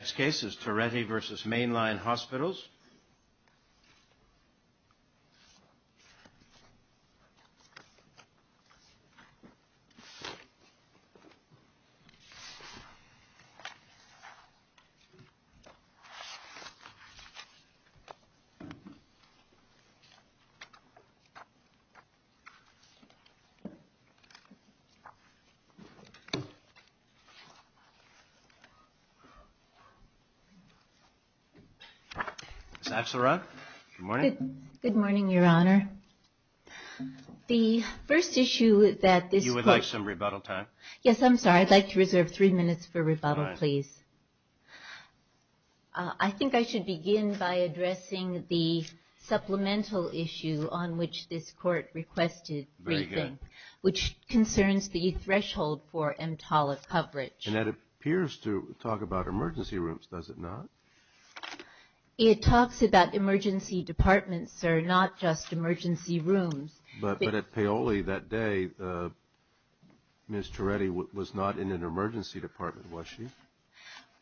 Next case is Torretti v. Main Line Hospitals. Ms. Axelrod, good morning. Good morning, Your Honor. The first issue that this court... You would like some rebuttal time? Yes, I'm sorry. I'd like to reserve three minutes for rebuttal, please. All right. I think I should begin by addressing the supplemental issue on which this court requested briefing... Very good. ...which concerns the threshold for EMTALA coverage. And that appears to talk about emergency rooms, does it not? It talks about emergency departments, sir, not just emergency rooms. But at Paoli that day, Ms. Torretti was not in an emergency department, was she?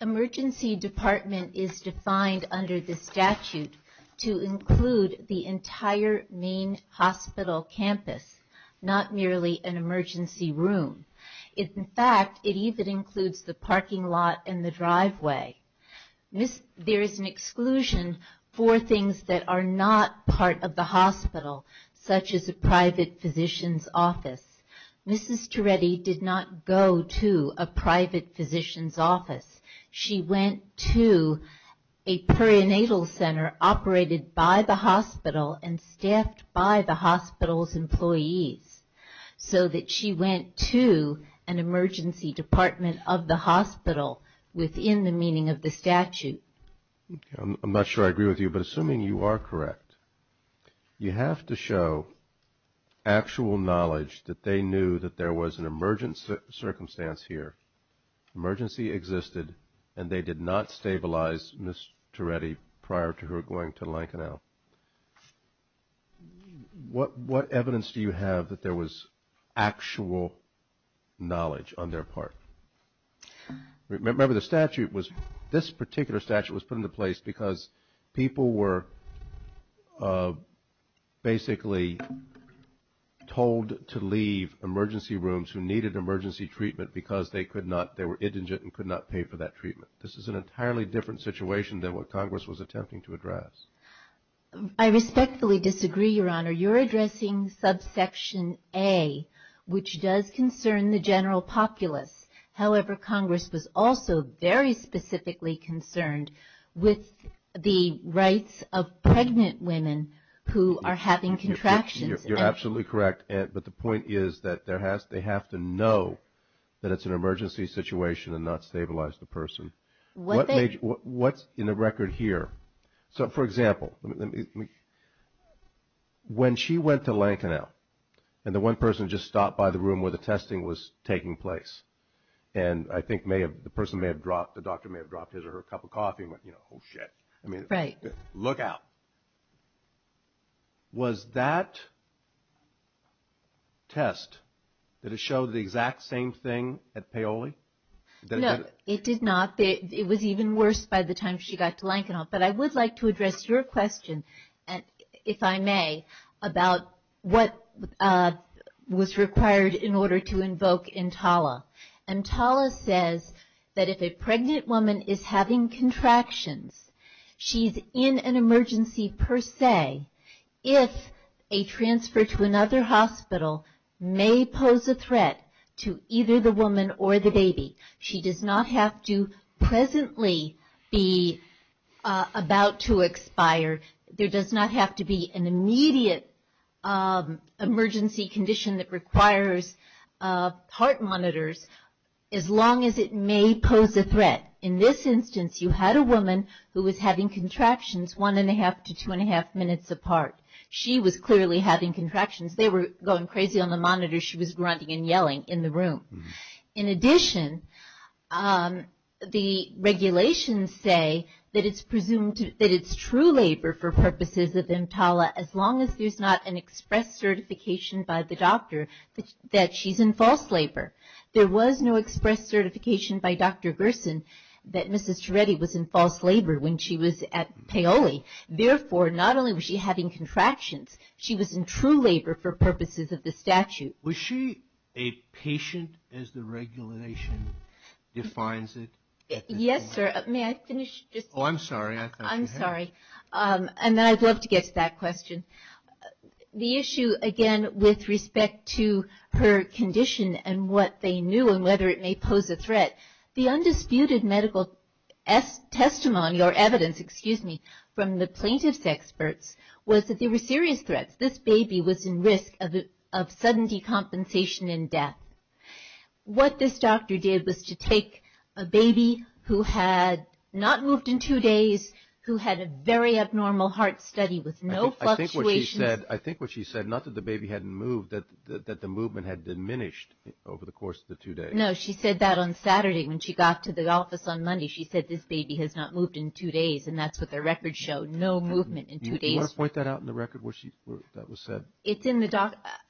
Emergency department is defined under the statute to include the entire main hospital campus, not merely an emergency room. In fact, it even includes the parking lot and the driveway. There is an exclusion for things that are not part of the hospital, such as a private physician's office. Mrs. Torretti did not go to a private physician's office. She went to a perinatal center operated by the hospital and staffed by the hospital's employees, so that she went to an emergency department of the hospital within the meaning of the statute. I'm not sure I agree with you, but assuming you are correct, you have to show actual knowledge that they knew that there was an emergency circumstance here. Emergency existed, and they did not stabilize Ms. Torretti prior to her going to Lincoln L. What evidence do you have that there was actual knowledge on their part? Remember, this particular statute was put into place because people were basically told to leave emergency rooms who needed emergency treatment because they were indigent and could not pay for that treatment. This is an entirely different situation than what Congress was attempting to address. I respectfully disagree, Your Honor. You're addressing subsection A, which does concern the general populace. However, Congress was also very specifically concerned with the rights of pregnant women who are having contractions. You're absolutely correct, but the point is that they have to know that it's an emergency situation and not stabilize the person. What's in the record here? So, for example, when she went to Lincoln L., and the one person just stopped by the room where the testing was taking place, and I think the person may have dropped, the doctor may have dropped his or her cup of coffee and went, I mean, look out. Was that test, did it show the exact same thing at Paoli? No, it did not. It was even worse by the time she got to Lincoln L., but I would like to address your question, if I may, about what was required in order to invoke EMTALA. EMTALA says that if a pregnant woman is having contractions, she's in an emergency per se. If a transfer to another hospital may pose a threat to either the woman or the baby, she does not have to presently be about to expire. There does not have to be an immediate emergency condition that requires heart monitors, as long as it may pose a threat. In this instance, you had a woman who was having contractions one-and-a-half to two-and-a-half minutes apart. She was clearly having contractions. They were going crazy on the monitor. She was grunting and yelling in the room. In addition, the regulations say that it's presumed that it's true labor for purposes of EMTALA, as long as there's not an express certification by the doctor that she's in false labor. There was no express certification by Dr. Gerson that Mrs. Charetti was in false labor when she was at Paoli. Therefore, not only was she having contractions, she was in true labor for purposes of the statute. Was she a patient as the regulation defines it? Yes, sir. May I finish? Oh, I'm sorry. I thought you had. I'm sorry. And I'd love to get to that question. The issue, again, with respect to her condition and what they knew and whether it may pose a threat, the undisputed medical testimony or evidence, excuse me, from the plaintiff's experts was that there were serious threats. This baby was in risk of sudden decompensation and death. What this doctor did was to take a baby who had not moved in two days, who had a very abnormal heart study with no fluctuations. I think what she said, not that the baby hadn't moved, that the movement had diminished over the course of the two days. No, she said that on Saturday when she got to the office on Monday. She said this baby has not moved in two days, and that's what the records show, no movement in two days. Do you want to point that out in the record where that was said?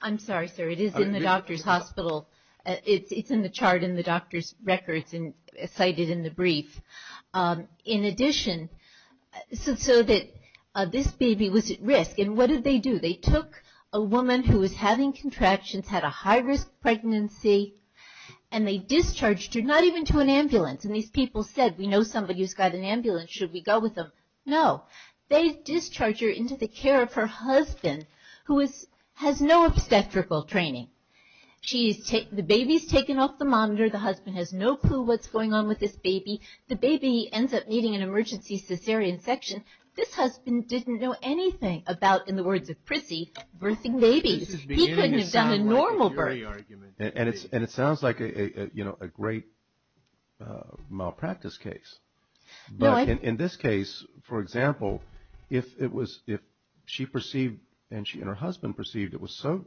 I'm sorry, sir. It is in the doctor's hospital. It's in the chart in the doctor's records and cited in the brief. In addition, so that this baby was at risk. And what did they do? They took a woman who was having contractions, had a high-risk pregnancy, and they discharged her, not even to an ambulance. And these people said, we know somebody who's got an ambulance. Should we go with them? No. They discharged her into the care of her husband, who has no obstetrical training. The baby's taken off the monitor. The husband has no clue what's going on with this baby. The baby ends up needing an emergency cesarean section. This husband didn't know anything about, in the words of Prissy, birthing babies. He couldn't have done a normal birth. And it sounds like a great malpractice case. But in this case, for example, if she perceived and her husband perceived it was so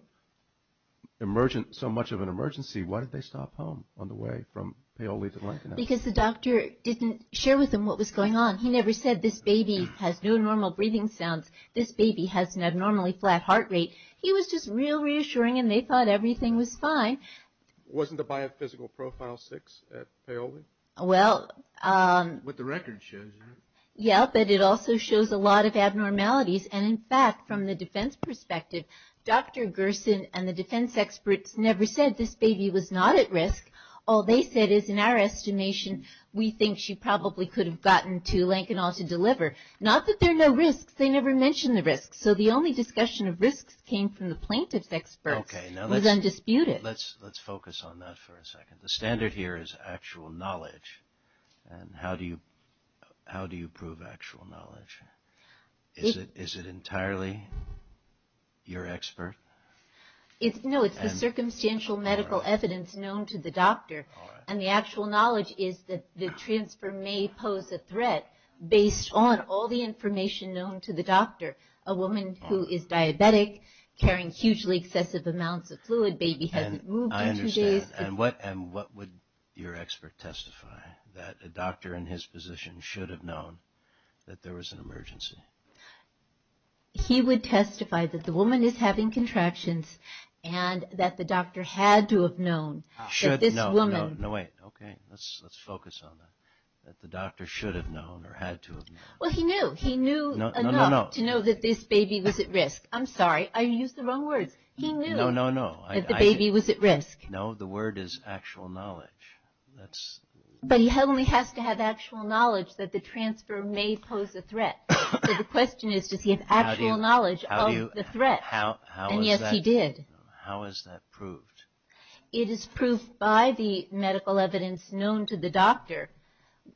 much of an emergency, why did they stop home on the way from Paoli to Lincoln? Because the doctor didn't share with them what was going on. He never said, this baby has no normal breathing sounds. This baby has an abnormally flat heart rate. He was just real reassuring, and they thought everything was fine. Wasn't the biophysical profile 6 at Paoli? What the record shows, isn't it? Yeah, but it also shows a lot of abnormalities. And, in fact, from the defense perspective, Dr. Gerson and the defense experts never said this baby was not at risk. All they said is, in our estimation, we think she probably could have gotten to Lincoln Hall to deliver. Not that there are no risks. They never mentioned the risks. So the only discussion of risks came from the plaintiff's experts. Let's focus on that for a second. The standard here is actual knowledge. And how do you prove actual knowledge? Is it entirely your expert? No, it's the circumstantial medical evidence known to the doctor. And the actual knowledge is that the transfer may pose a threat based on all the information known to the doctor. A woman who is diabetic, carrying hugely excessive amounts of fluid, baby hasn't moved in two days. I understand. And what would your expert testify? That a doctor in his position should have known that there was an emergency. He would testify that the woman is having contractions and that the doctor had to have known that this woman... No, wait. Okay. Let's focus on that. That the doctor should have known or had to have known. Well, he knew. He knew enough to know that this baby was at risk. I'm sorry. I used the wrong words. He knew. No, no, no. That the baby was at risk. No, the word is actual knowledge. But he only has to have actual knowledge that the transfer may pose a threat. So the question is, does he have actual knowledge of the threat? And yes, he did. How is that proved? It is proved by the medical evidence known to the doctor,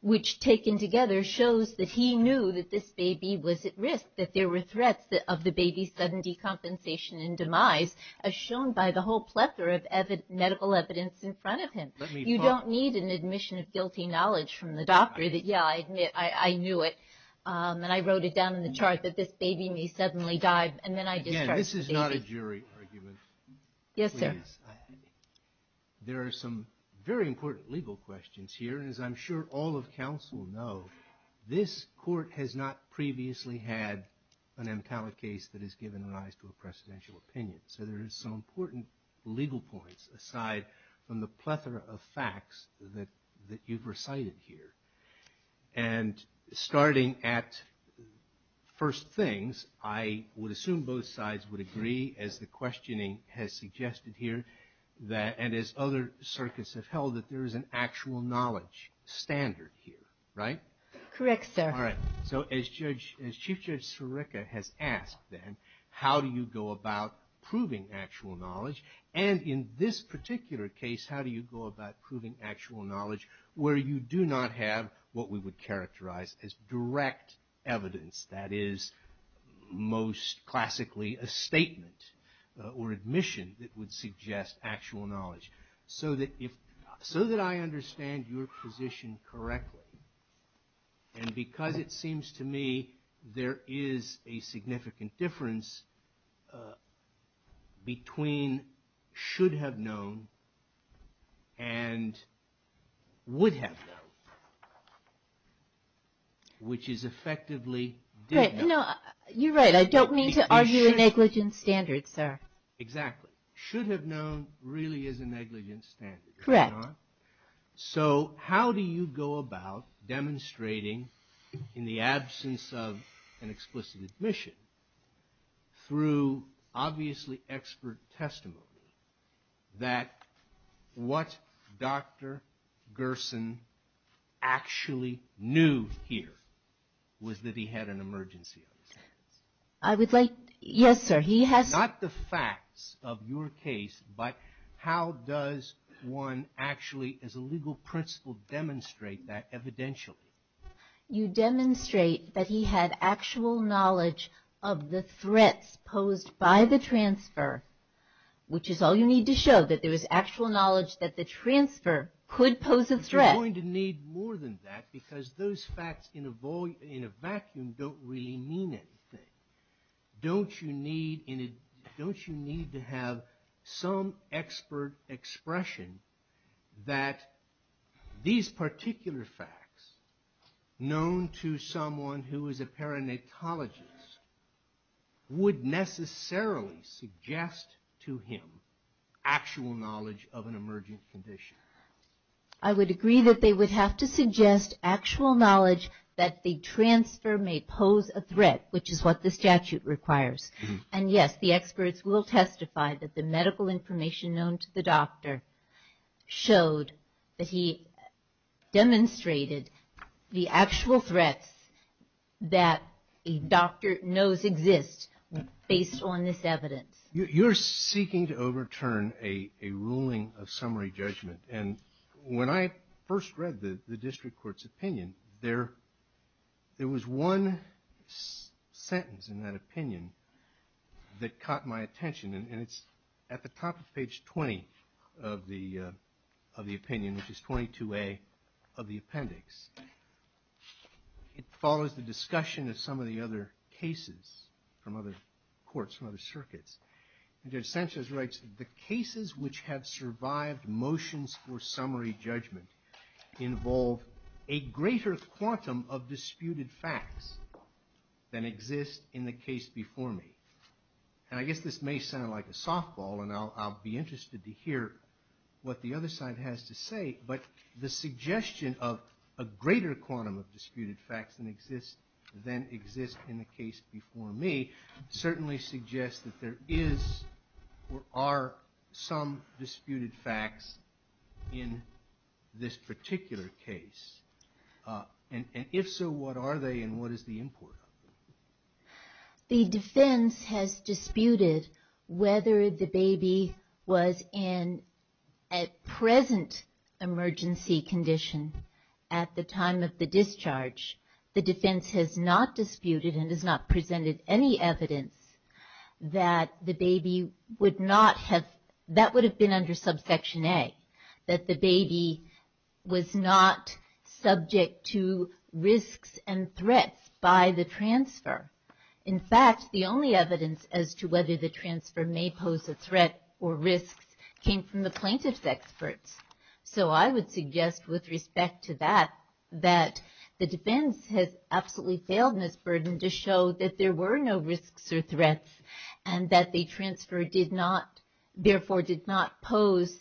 which taken together shows that he knew that this baby was at risk, that there were threats of the baby's sudden decompensation and demise, as shown by the whole plethora of medical evidence in front of him. You don't need an admission of guilty knowledge from the doctor that, yeah, I knew it. And I wrote it down in the chart that this baby may suddenly die, and then I discharged the baby. Again, this is not a jury argument. Yes, sir. There are some very important legal questions here. And as I'm sure all of counsel know, this court has not previously had an MTALA case that has given rise to a presidential opinion. So there are some important legal points aside from the plethora of facts that you've recited here. And starting at first things, I would assume both sides would agree, as the questioning has suggested here, and as other circuits have held, that there is an actual knowledge standard here, right? Correct, sir. All right. So as Chief Judge Sirica has asked, then, how do you go about proving actual knowledge? And in this particular case, how do you go about proving actual knowledge, where you do not have what we would characterize as direct evidence, that is most classically a statement or admission that would suggest actual knowledge, so that I understand your position correctly, and because it seems to me there is a significant difference between should have known and would have known, which is effectively did know. You're right. I don't mean to argue a negligent standard, sir. Exactly. Should have known really is a negligent standard, is it not? Correct. So how do you go about demonstrating, in the absence of an explicit admission, through obviously expert testimony, that what Dr. Gerson actually knew here was that he had an emergency on his hands? Yes, sir. Not the facts of your case, but how does one actually, as a legal principle, demonstrate that evidentially? You demonstrate that he had actual knowledge of the threats posed by the transfer, which is all you need to show, that there was actual knowledge that the transfer could pose a threat. But you're going to need more than that, because those facts in a vacuum don't really mean anything. Don't you need to have some expert expression that these particular facts, known to someone who is a paranatologist, would necessarily suggest to him actual knowledge of an emergent condition? I would agree that they would have to suggest actual knowledge that the transfer may pose a threat, which is what the statute requires. And yes, the experts will testify that the medical information known to the doctor showed that he demonstrated the actual threats that a doctor knows exist, based on this evidence. You're seeking to overturn a ruling of summary judgment. And when I first read the district court's opinion, there was one sentence in that opinion that caught my attention. And it's at the top of page 20 of the opinion, which is 22A of the appendix. It follows the discussion of some of the other cases from other courts, from other circuits. Judge Sanchez writes, the cases which have survived motions for summary judgment involve a greater quantum of disputed facts than exist in the case before me. And I guess this may sound like a softball, and I'll be interested to hear what the other side has to say, but the suggestion of a greater quantum of disputed facts than exist in the case before me certainly suggests that there is or are some disputed facts in this particular case. And if so, what are they and what is the import of them? The defense has disputed whether the baby was in a present emergency condition at the time of the discharge. The defense has not disputed and has not presented any evidence that the baby would not have, that would have been under subsection A, that the baby was not subject to risks and threats by the transfer. In fact, the only evidence as to whether the transfer may pose a threat or risks came from the plaintiff's experts. So I would suggest with respect to that, that the defense has absolutely failed in its burden to show that there were no risks or threats and that the transfer did not, therefore did not pose,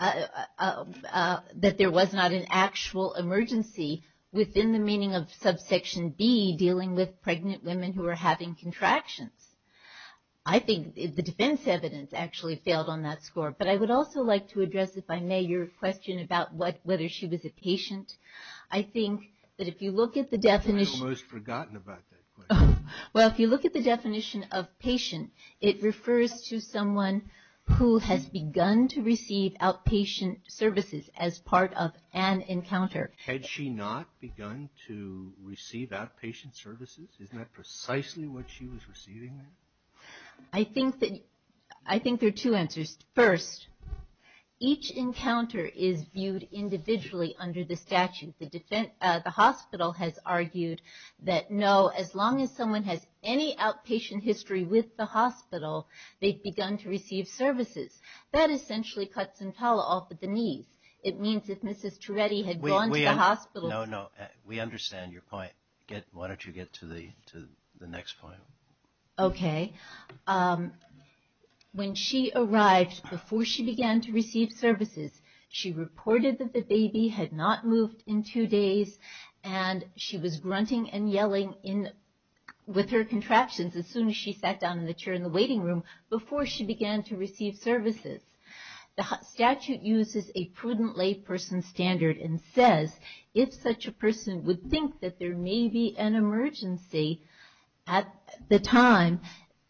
that there was not an actual emergency within the meaning of subsection B, dealing with pregnant women who were having contractions. I think the defense evidence actually failed on that score. But I would also like to address, if I may, your question about whether she was a patient. I think that if you look at the definition of patient, it refers to someone who has begun to receive outpatient services as part of an encounter. Had she not begun to receive outpatient services? Isn't that precisely what she was receiving? I think there are two answers. First, each encounter is viewed individually under the statute. The hospital has argued that no, as long as someone has any outpatient history with the hospital, they've begun to receive services. That essentially cuts some towel off at the knees. It means if Mrs. Turetti had gone to the hospital. No, no, we understand your point. Why don't you get to the next point? Okay. When she arrived, before she began to receive services, she reported that the baby had not moved in two days, and she was grunting and yelling with her contractions as soon as she sat down in the chair in the waiting room, before she began to receive services. The statute uses a prudent layperson standard and says if such a person would think that there may be an emergency at the time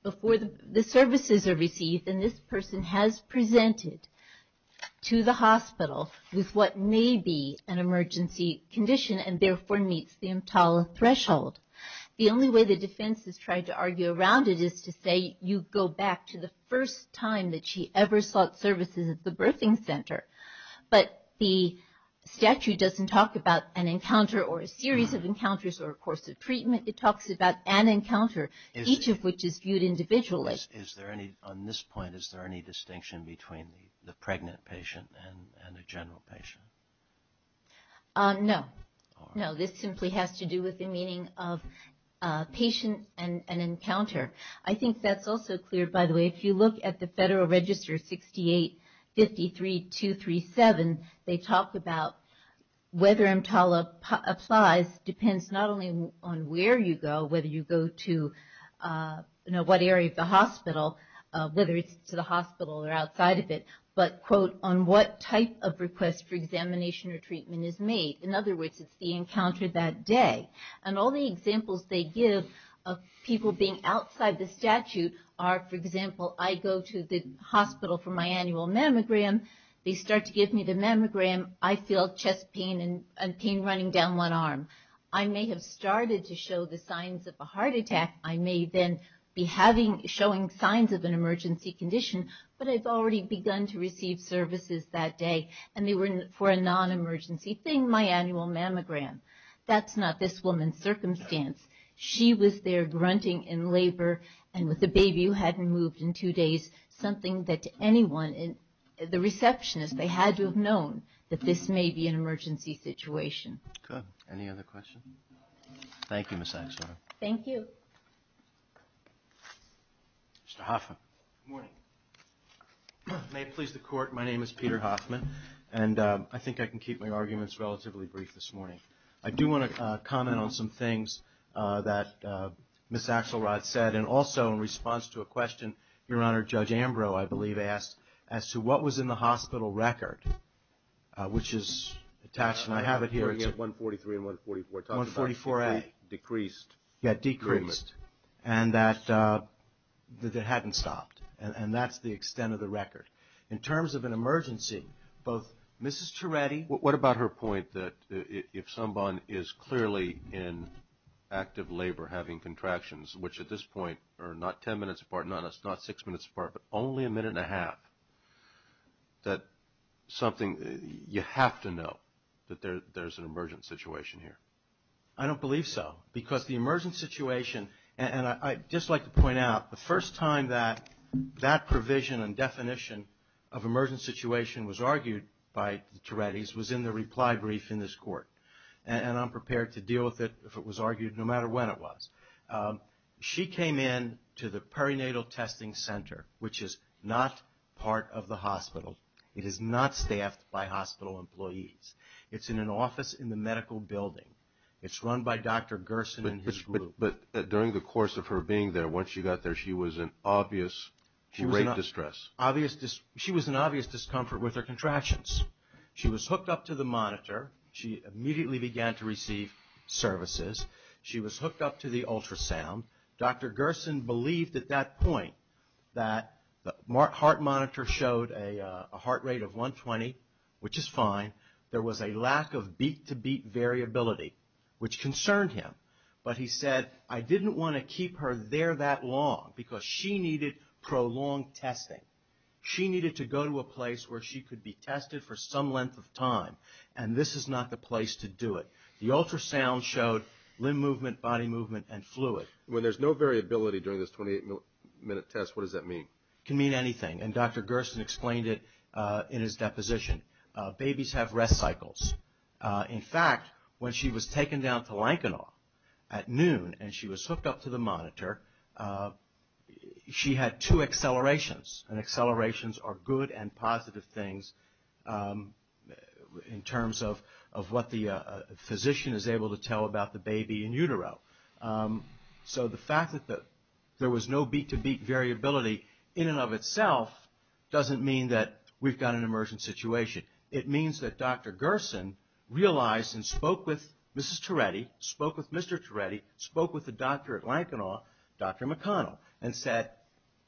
before the services are received, then this person has presented to the hospital with what may be an emergency condition and therefore meets the EMTALA threshold. The only way the defense has tried to argue around it is to say you go back to the first time that she ever sought services at the birthing center. But the statute doesn't talk about an encounter or a series of encounters or a course of treatment. It talks about an encounter, each of which is viewed individually. On this point, is there any distinction between the pregnant patient and the general patient? No. No, this simply has to do with the meaning of patient and encounter. I think that's also clear, by the way. If you look at the Federal Register 6853237, they talk about whether EMTALA applies depends not only on where you go, whether you go to what area of the hospital, whether it's to the hospital or outside of it, but, quote, on what type of request for examination or treatment is made. In other words, it's the encounter that day. And all the examples they give of people being outside the statute are, for example, I go to the hospital for my annual mammogram. They start to give me the mammogram. I feel chest pain and pain running down one arm. I may have started to show the signs of a heart attack. I may then be showing signs of an emergency condition, but I've already begun to receive services that day. And they were for a non-emergency thing, my annual mammogram. That's not this woman's circumstance. She was there grunting in labor and with a baby who hadn't moved in two days, something that anyone, the receptionist, they had to have known that this may be an emergency situation. Good. Any other questions? Thank you, Ms. Axelrod. Thank you. Mr. Hoffman. Good morning. May it please the Court, my name is Peter Hoffman, and I think I can keep my arguments relatively brief this morning. I do want to comment on some things that Ms. Axelrod said, and also in response to a question Your Honor, Judge Ambrose, I believe, asked, as to what was in the hospital record, which is attached, and I have it here. We're getting at 143 and 144. 144A. Decreased. Yeah, decreased. And that it hadn't stopped. And that's the extent of the record. In terms of an emergency, both Mrs. Charetti. What about her point that if someone is clearly in active labor having contractions, which at this point are not ten minutes apart, not six minutes apart, but only a minute and a half, that something you have to know that there's an emergent situation here? I don't believe so. Because the emergent situation, and I'd just like to point out, the first time that that provision and definition of emergent situation was argued by the Charettis was in the reply brief in this Court. And I'm prepared to deal with it if it was argued, no matter when it was. She came in to the perinatal testing center, which is not part of the hospital. It is not staffed by hospital employees. It's in an office in the medical building. It's run by Dr. Gerson and his group. But during the course of her being there, once she got there, she was in obvious, great distress. She was in obvious discomfort with her contractions. She was hooked up to the monitor. She immediately began to receive services. She was hooked up to the ultrasound. Dr. Gerson believed at that point that the heart monitor showed a heart rate of 120, which is fine. There was a lack of beat-to-beat variability, which concerned him. But he said, I didn't want to keep her there that long because she needed prolonged testing. She needed to go to a place where she could be tested for some length of time, and this is not the place to do it. The ultrasound showed limb movement, body movement, and fluid. When there's no variability during this 28-minute test, what does that mean? It can mean anything, and Dr. Gerson explained it in his deposition. Babies have rest cycles. In fact, when she was taken down to Lankenau at noon and she was hooked up to the monitor, she had two accelerations, and accelerations are good and positive things in terms of what the physician is able to tell about the baby in utero. So the fact that there was no beat-to-beat variability in and of itself doesn't mean that we've got an emergent situation. It means that Dr. Gerson realized and spoke with Mrs. Turetti, spoke with Mr. Turetti, spoke with the doctor at Lankenau, Dr. McConnell, and said,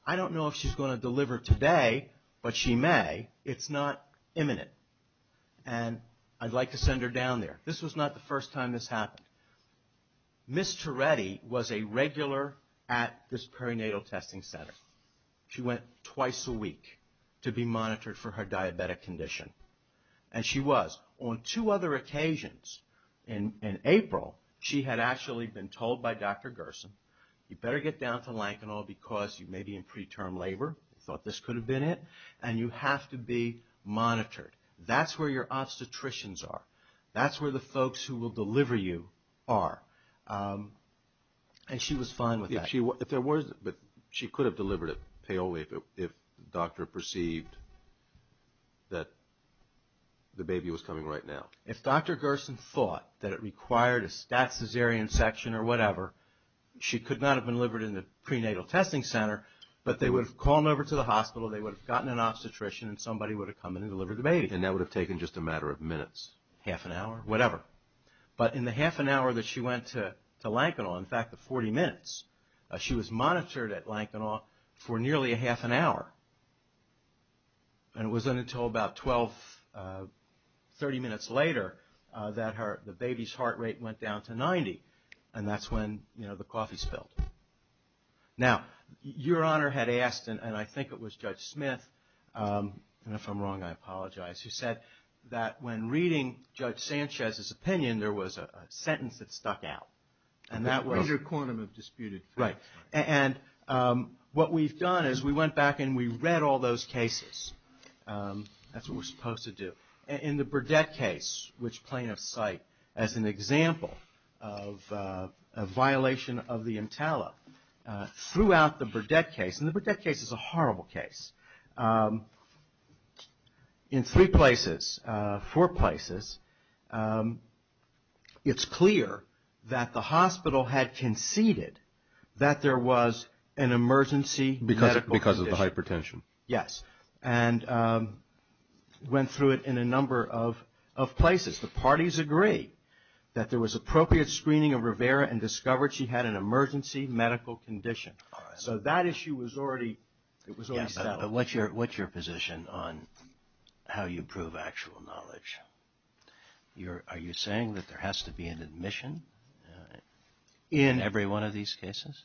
I don't know if she's going to deliver today, but she may. It's not imminent, and I'd like to send her down there. This was not the first time this happened. Mrs. Turetti was a regular at this perinatal testing center. She went twice a week to be monitored for her diabetic condition, and she was. On two other occasions in April, she had actually been told by Dr. Gerson, you better get down to Lankenau because you may be in preterm labor. They thought this could have been it, and you have to be monitored. That's where your obstetricians are. That's where the folks who will deliver you are, and she was fine with that. She could have delivered at Paoli if the doctor perceived that the baby was coming right now. If Dr. Gerson thought that it required a stat caesarean section or whatever, she could not have been delivered in the prenatal testing center, but they would have called her over to the hospital, they would have gotten an obstetrician, and somebody would have come in and delivered the baby. And that would have taken just a matter of minutes. Half an hour, whatever. But in the half an hour that she went to Lankenau, in fact the 40 minutes, she was monitored at Lankenau for nearly a half an hour. And it wasn't until about 12, 30 minutes later that the baby's heart rate went down to 90, and that's when the coffee spilled. Now, your honor had asked, and I think it was Judge Smith, and if I'm wrong I apologize, who said that when reading Judge Sanchez's opinion, there was a sentence that stuck out. And that was... The greater quantum of disputed facts. Right. And what we've done is we went back and we read all those cases. That's what we're supposed to do. In the Burdett case, which plaintiffs cite as an example of a violation of the EMTALA, throughout the Burdett case, and the Burdett case is a horrible case, in three places, four places, it's clear that the hospital had conceded that there was an emergency medical condition. Because of the hypertension. Yes. And went through it in a number of places. The parties agreed that there was appropriate screening of Rivera and discovered she had an emergency medical condition. So that issue was already settled. But what's your position on how you prove actual knowledge? Are you saying that there has to be an admission in every one of these cases?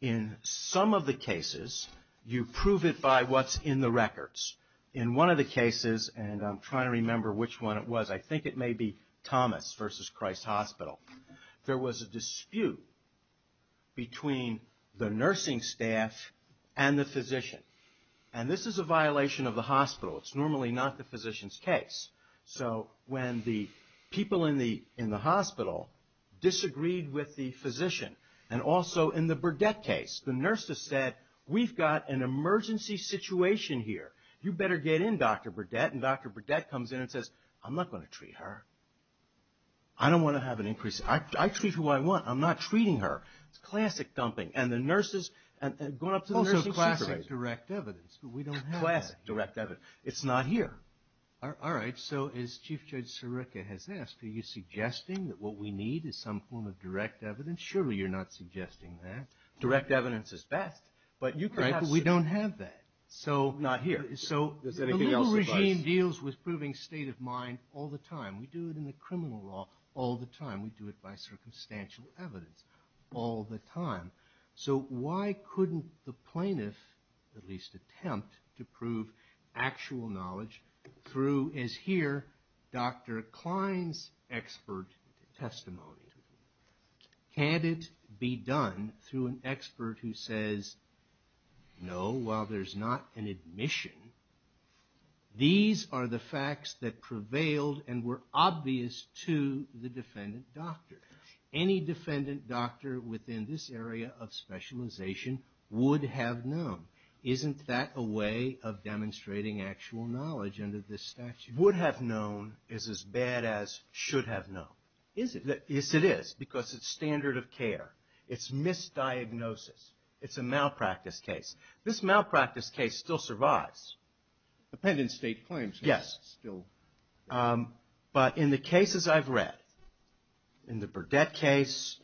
In some of the cases, you prove it by what's in the records. In one of the cases, and I'm trying to remember which one it was, I think it may be Thomas v. Christ Hospital, there was a dispute between the nursing staff and the physician. And this is a violation of the hospital. It's normally not the physician's case. So when the people in the hospital disagreed with the physician, and also in the Burdett case, the nurse said, we've got an emergency situation here. You better get in, Dr. Burdett. And Dr. Burdett comes in and says, I'm not going to treat her. I don't want to have an increase. I treat who I want. I'm not treating her. It's classic dumping. And the nurses, going up to the nursing secretary. Also classic direct evidence. But we don't have that. Classic direct evidence. It's not here. All right. So as Chief Judge Sirica has asked, are you suggesting that what we need is some form of direct evidence? Surely you're not suggesting that. Direct evidence is best. Right, but we don't have that. Not here. So the liberal regime deals with proving state of mind all the time. We do it in the criminal law all the time. We do it by circumstantial evidence all the time. So why couldn't the plaintiff at least attempt to prove actual knowledge through, as here, Dr. Klein's expert testimony? Can it be done through an expert who says, no, while there's not an admission, these are the facts that prevailed and were obvious to the defendant doctor. Any defendant doctor within this area of specialization would have known. Isn't that a way of demonstrating actual knowledge under this statute? Would have known is as bad as should have known. Is it? Yes, it is, because it's standard of care. It's misdiagnosis. It's a malpractice case. This malpractice case still survives. Dependent state claims. Yes. Still. But in the cases I've read, in the Burdette case,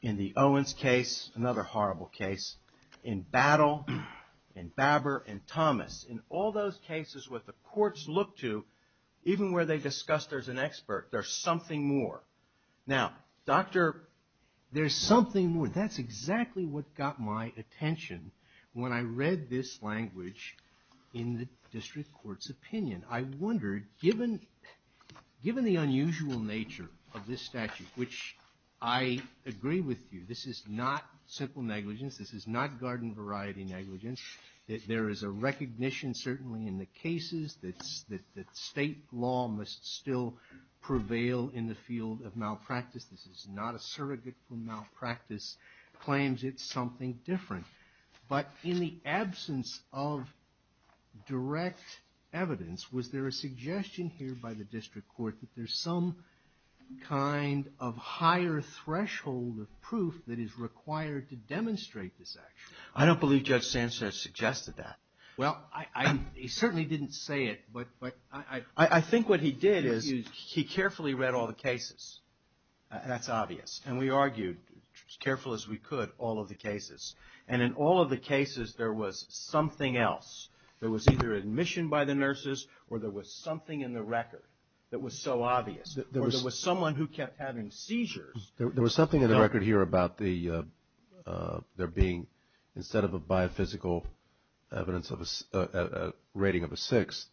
in the Owens case, another horrible case, in Battle, in Babber, in Thomas, in all those cases what the courts look to, even where they discuss there's an expert, there's something more. Now, doctor, there's something more. That's exactly what got my attention when I read this language in the district court's opinion. I wondered, given the unusual nature of this statute, which I agree with you, this is not simple negligence. This is not garden variety negligence. There is a recognition certainly in the cases that state law must still prevail in the field of malpractice. This is not a surrogate for malpractice claims. It's something different. But in the absence of direct evidence, was there a suggestion here by the district court that there's some kind of higher threshold of proof that is required to demonstrate this action? I don't believe Judge Sanchez suggested that. Well, he certainly didn't say it, but I think what he did is he carefully read all the cases. That's obvious. And we argued, as careful as we could, all of the cases. And in all of the cases there was something else. There was either admission by the nurses or there was something in the record that was so obvious. Or there was someone who kept having seizures. There was something in the record here about there being, instead of a biophysical evidence of a rating of a six,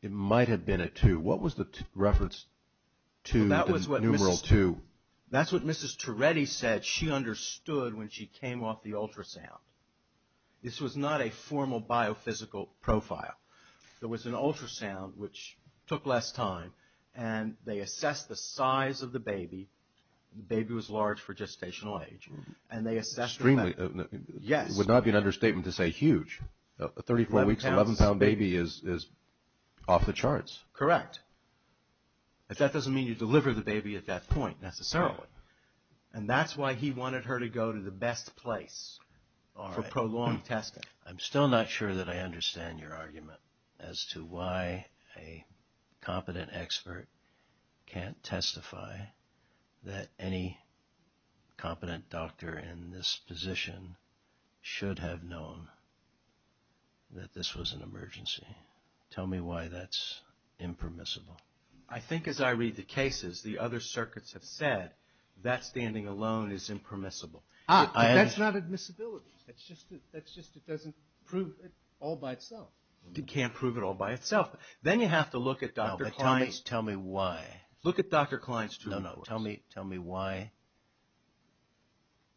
it might have been a two. What was the reference to the numeral two? That's what Mrs. Toretti said she understood when she came off the ultrasound. This was not a formal biophysical profile. There was an ultrasound, which took less time, and they assessed the size of the baby. The baby was large for gestational age. Extremely. Yes. It would not be an understatement to say huge. A 34-weeks, 11-pound baby is off the charts. Correct. But that doesn't mean you deliver the baby at that point, necessarily. And that's why he wanted her to go to the best place for prolonged testing. I'm still not sure that I understand your argument as to why a competent expert can't testify that any competent doctor in this position should have known that this was an emergency. Tell me why that's impermissible. I think as I read the cases, the other circuits have said that standing alone is impermissible. That's not admissibility. That's just it doesn't prove it all by itself. It can't prove it all by itself. Then you have to look at Dr. Klein's. Tell me why. Look at Dr. Klein's. No, no. Tell me why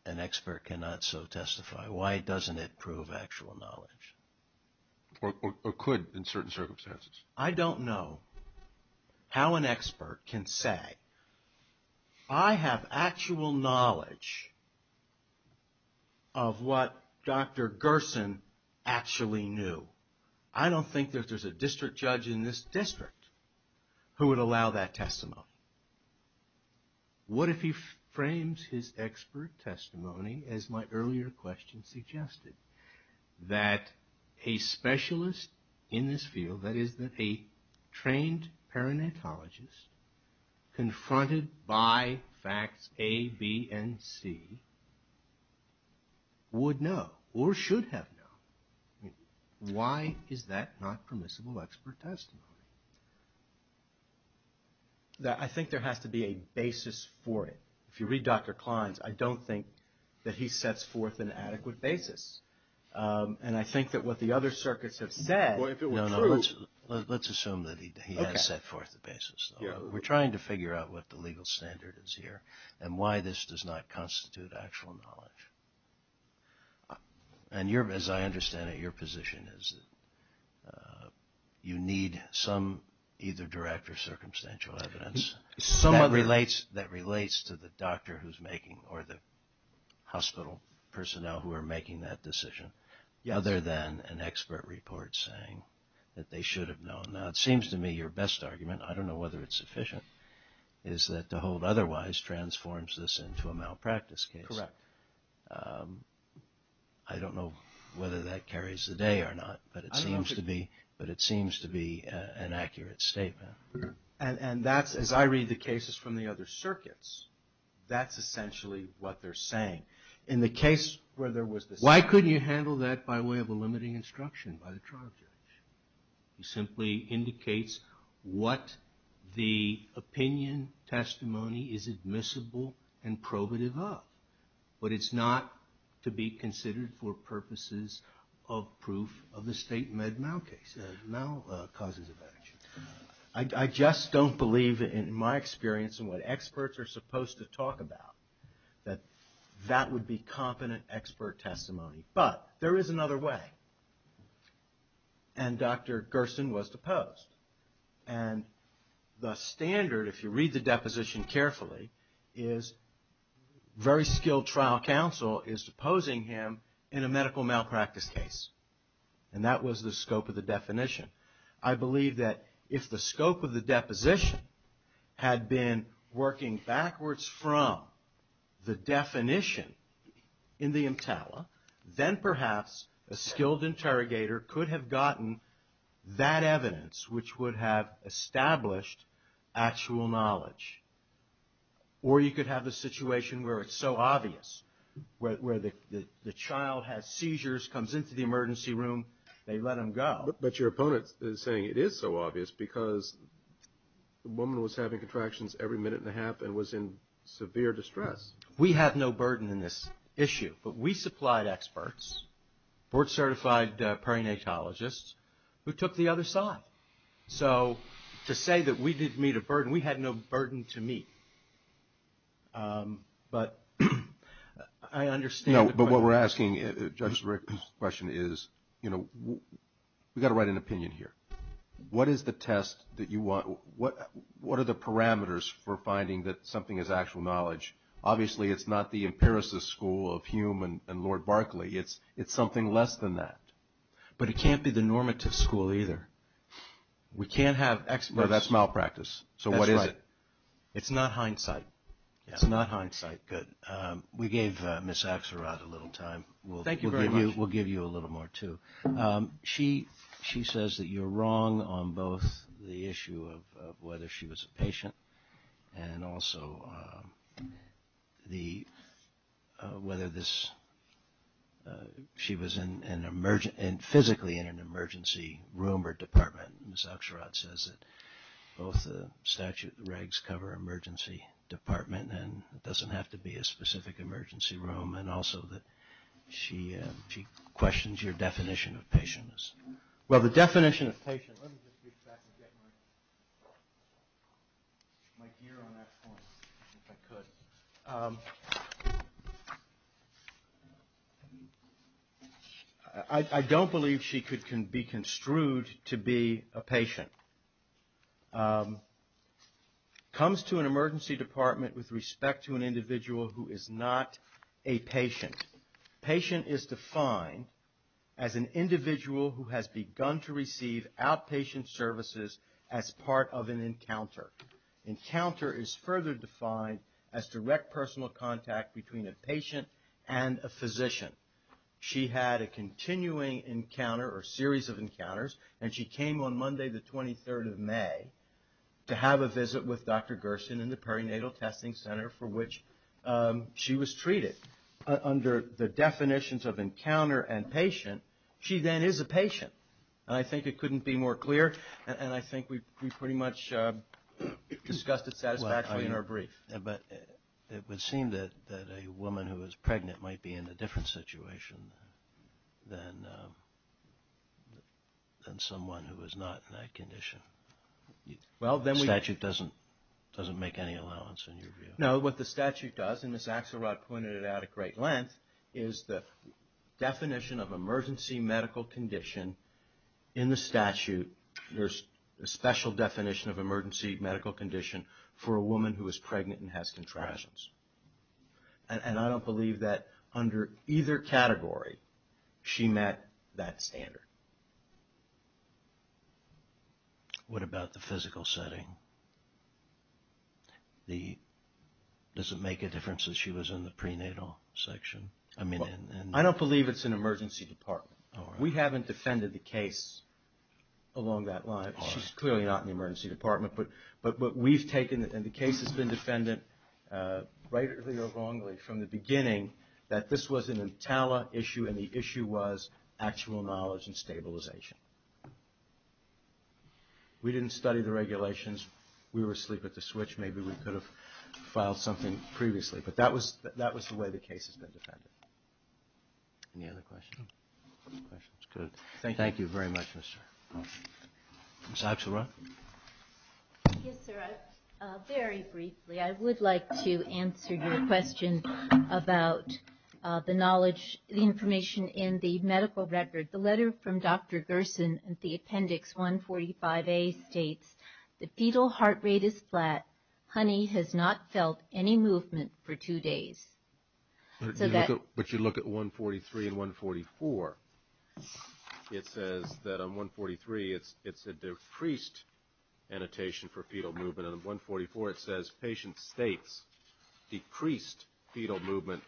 an expert cannot so testify. Why doesn't it prove actual knowledge? Or could in certain circumstances. I don't know how an expert can say, I have actual knowledge of what Dr. Gerson actually knew. I don't think that there's a district judge in this district who would allow that testimony. What if he frames his expert testimony as my earlier question suggested? That a specialist in this field, that is a trained perinatologist, confronted by facts A, B, and C, would know or should have known. Why is that not permissible expert testimony? I think there has to be a basis for it. If you read Dr. Klein's, I don't think that he sets forth an adequate basis. And I think that what the other circuits have said. Let's assume that he has set forth the basis. We're trying to figure out what the legal standard is here and why this does not constitute actual knowledge. And as I understand it, your position is that you need some either direct or circumstantial evidence. That relates to the doctor who's making or the hospital personnel who are making that decision. Other than an expert report saying that they should have known. Now it seems to me your best argument, I don't know whether it's sufficient, is that to hold otherwise transforms this into a malpractice case. Correct. I don't know whether that carries the day or not, but it seems to be an accurate statement. And that's, as I read the cases from the other circuits, that's essentially what they're saying. In the case where there was this... Why couldn't you handle that by way of a limiting instruction by the trial judge? He simply indicates what the opinion testimony is admissible and probative of. But it's not to be considered for purposes of proof of the state med mal case. Mal causes of action. I just don't believe, in my experience and what experts are supposed to talk about, that that would be competent expert testimony. But there is another way. And Dr. Gerson was deposed. And the standard, if you read the deposition carefully, is very skilled trial counsel is deposing him in a medical malpractice case. And that was the scope of the definition. I believe that if the scope of the deposition had been working backwards from the definition in the EMTALA, then perhaps a skilled interrogator could have gotten that evidence, which would have established actual knowledge. Or you could have a situation where it's so obvious, where the child has seizures, comes into the emergency room, they let him go. But your opponent is saying it is so obvious because the woman was having contractions every minute and a half and was in severe distress. We have no burden in this issue. But we supplied experts, board-certified perinatologists, who took the other side. So to say that we didn't meet a burden, we had no burden to meet. But I understand. But what we're asking, Judge Rick's question is, you know, we've got to write an opinion here. What is the test that you want? What are the parameters for finding that something is actual knowledge? Obviously, it's not the empiricist school of Hume and Lord Barclay. It's something less than that. But it can't be the normative school either. We can't have experts. No, that's malpractice. So what is it? It's not hindsight. It's not hindsight. All right, good. We gave Ms. Axelrod a little time. Thank you very much. We'll give you a little more, too. She says that you're wrong on both the issue of whether she was a patient and also whether she was physically in an emergency room or department. Ms. Axelrod says that both the statute and the regs cover emergency department. And it doesn't have to be a specific emergency room. And also that she questions your definition of patient. Well, the definition of patient, let me just get my gear on that point, if I could. I don't believe she can be construed to be a patient. Comes to an emergency department with respect to an individual who is not a patient. Patient is defined as an individual who has begun to receive outpatient services as part of an encounter. Encounter is further defined as direct personal contact between a patient and a physician. She had a continuing encounter or series of encounters. And she came on Monday the 23rd of May to have a visit with Dr. Gerson in the perinatal testing center for which she was treated. Under the definitions of encounter and patient, she then is a patient. And I think it couldn't be more clear. And I think we pretty much discussed it satisfactorily in our brief. But it would seem that a woman who is pregnant might be in a different situation than someone who is not in that condition. The statute doesn't make any allowance in your view. No, what the statute does, and Ms. Axelrod pointed it out at great length, is the definition of emergency medical condition in the statute. There's a special definition of emergency medical condition for a woman who is pregnant and has contractions. And I don't believe that under either category she met that standard. What about the physical setting? Does it make a difference that she was in the prenatal section? I don't believe it's an emergency department. We haven't defended the case along that line. She's clearly not in the emergency department. But what we've taken, and the case has been defended rightly or wrongly from the beginning, that this was an Intala issue and the issue was actual knowledge and stabilization. We didn't study the regulations. We were asleep at the switch. Maybe we could have filed something previously. But that was the way the case has been defended. Any other questions? Good. Thank you very much, Mr. Ms. Axelrod? Yes, sir. Very briefly, I would like to answer your question about the knowledge, the information in the medical record. The letter from Dr. Gerson in the Appendix 145A states, The fetal heart rate is flat. Honey has not felt any movement for two days. But you look at 143 and 144. It says that on 143 it's a decreased annotation for fetal movement. And on 144 it says, Patient states decreased fetal movement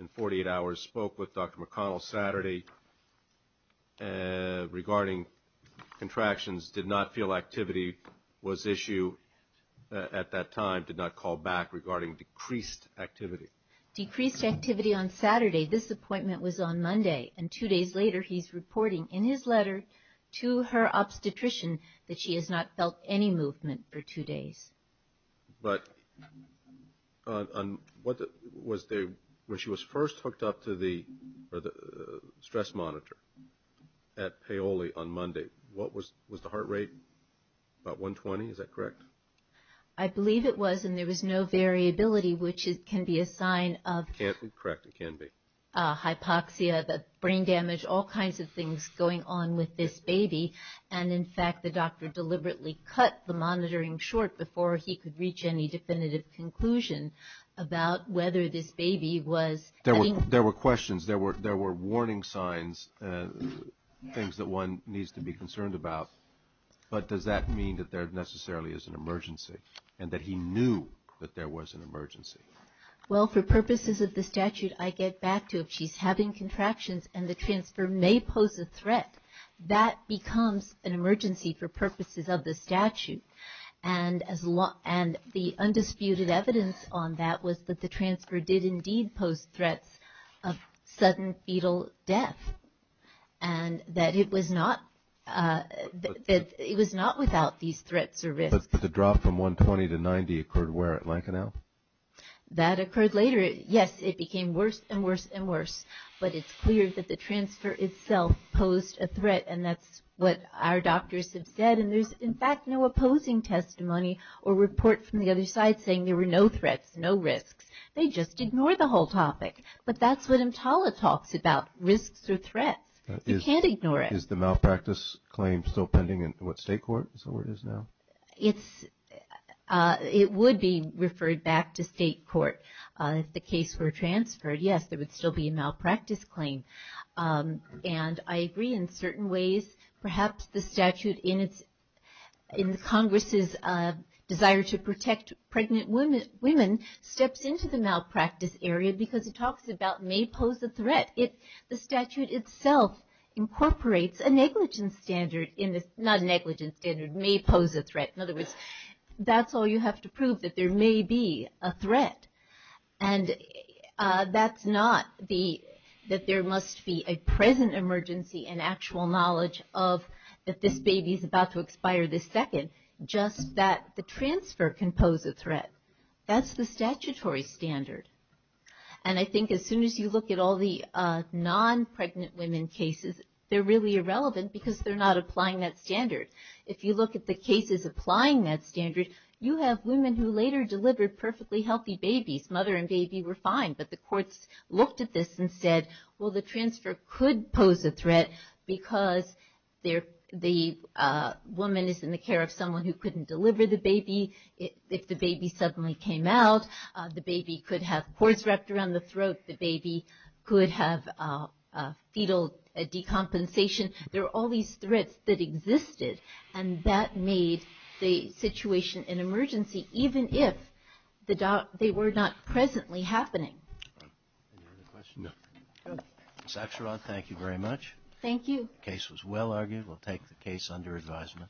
in 48 hours. Spoke with Dr. McConnell Saturday regarding contractions. Did not feel activity was issue at that time. Did not call back regarding decreased activity. Decreased activity on Saturday. This appointment was on Monday. And two days later he's reporting in his letter to her obstetrician that she has not felt any movement for two days. But when she was first hooked up to the stress monitor at Paoli on Monday, was the heart rate about 120? Is that correct? I believe it was. And there was no variability, which can be a sign of. Correct, it can be. Hypoxia, brain damage, all kinds of things going on with this baby. And, in fact, the doctor deliberately cut the monitoring short before he could reach any definitive conclusion about whether this baby was. There were questions. There were warning signs, things that one needs to be concerned about. But does that mean that there necessarily is an emergency and that he knew that there was an emergency? Well, for purposes of the statute, I get back to if she's having contractions and the transfer may pose a threat, that becomes an emergency for purposes of the statute. And the undisputed evidence on that was that the transfer did indeed pose threats of sudden fetal death and that it was not without these threats or risks. But the drop from 120 to 90 occurred where, at Lankenau? That occurred later. Yes, it became worse and worse and worse. But it's clear that the transfer itself posed a threat, and that's what our doctors have said. And there's, in fact, no opposing testimony or report from the other side saying there were no threats, no risks. They just ignored the whole topic. But that's what EMTALA talks about, risks or threats. You can't ignore it. Is the malpractice claim still pending in what, state court is where it is now? It would be referred back to state court. If the case were transferred, yes, there would still be a malpractice claim. And I agree in certain ways. Perhaps the statute in Congress's desire to protect pregnant women steps into the malpractice area because it talks about may pose a threat. The statute itself incorporates a negligence standard, not a negligence standard, may pose a threat. In other words, that's all you have to prove, that there may be a threat. And that's not that there must be a present emergency and actual knowledge that this baby is about to expire this second, just that the transfer can pose a threat. That's the statutory standard. And I think as soon as you look at all the non-pregnant women cases, they're really irrelevant because they're not applying that standard. If you look at the cases applying that standard, you have women who later delivered perfectly healthy babies. Mother and baby were fine. But the courts looked at this and said, well, the transfer could pose a threat because the woman is in the care of someone who couldn't deliver the baby. If the baby suddenly came out, the baby could have cords wrapped around the throat. The baby could have fetal decompensation. There are all these threats that existed, and that made the situation an emergency, even if they were not presently happening. Any other questions? No. Ms. Axelrod, thank you very much. Thank you. The case was well argued. We'll take the case under advisement.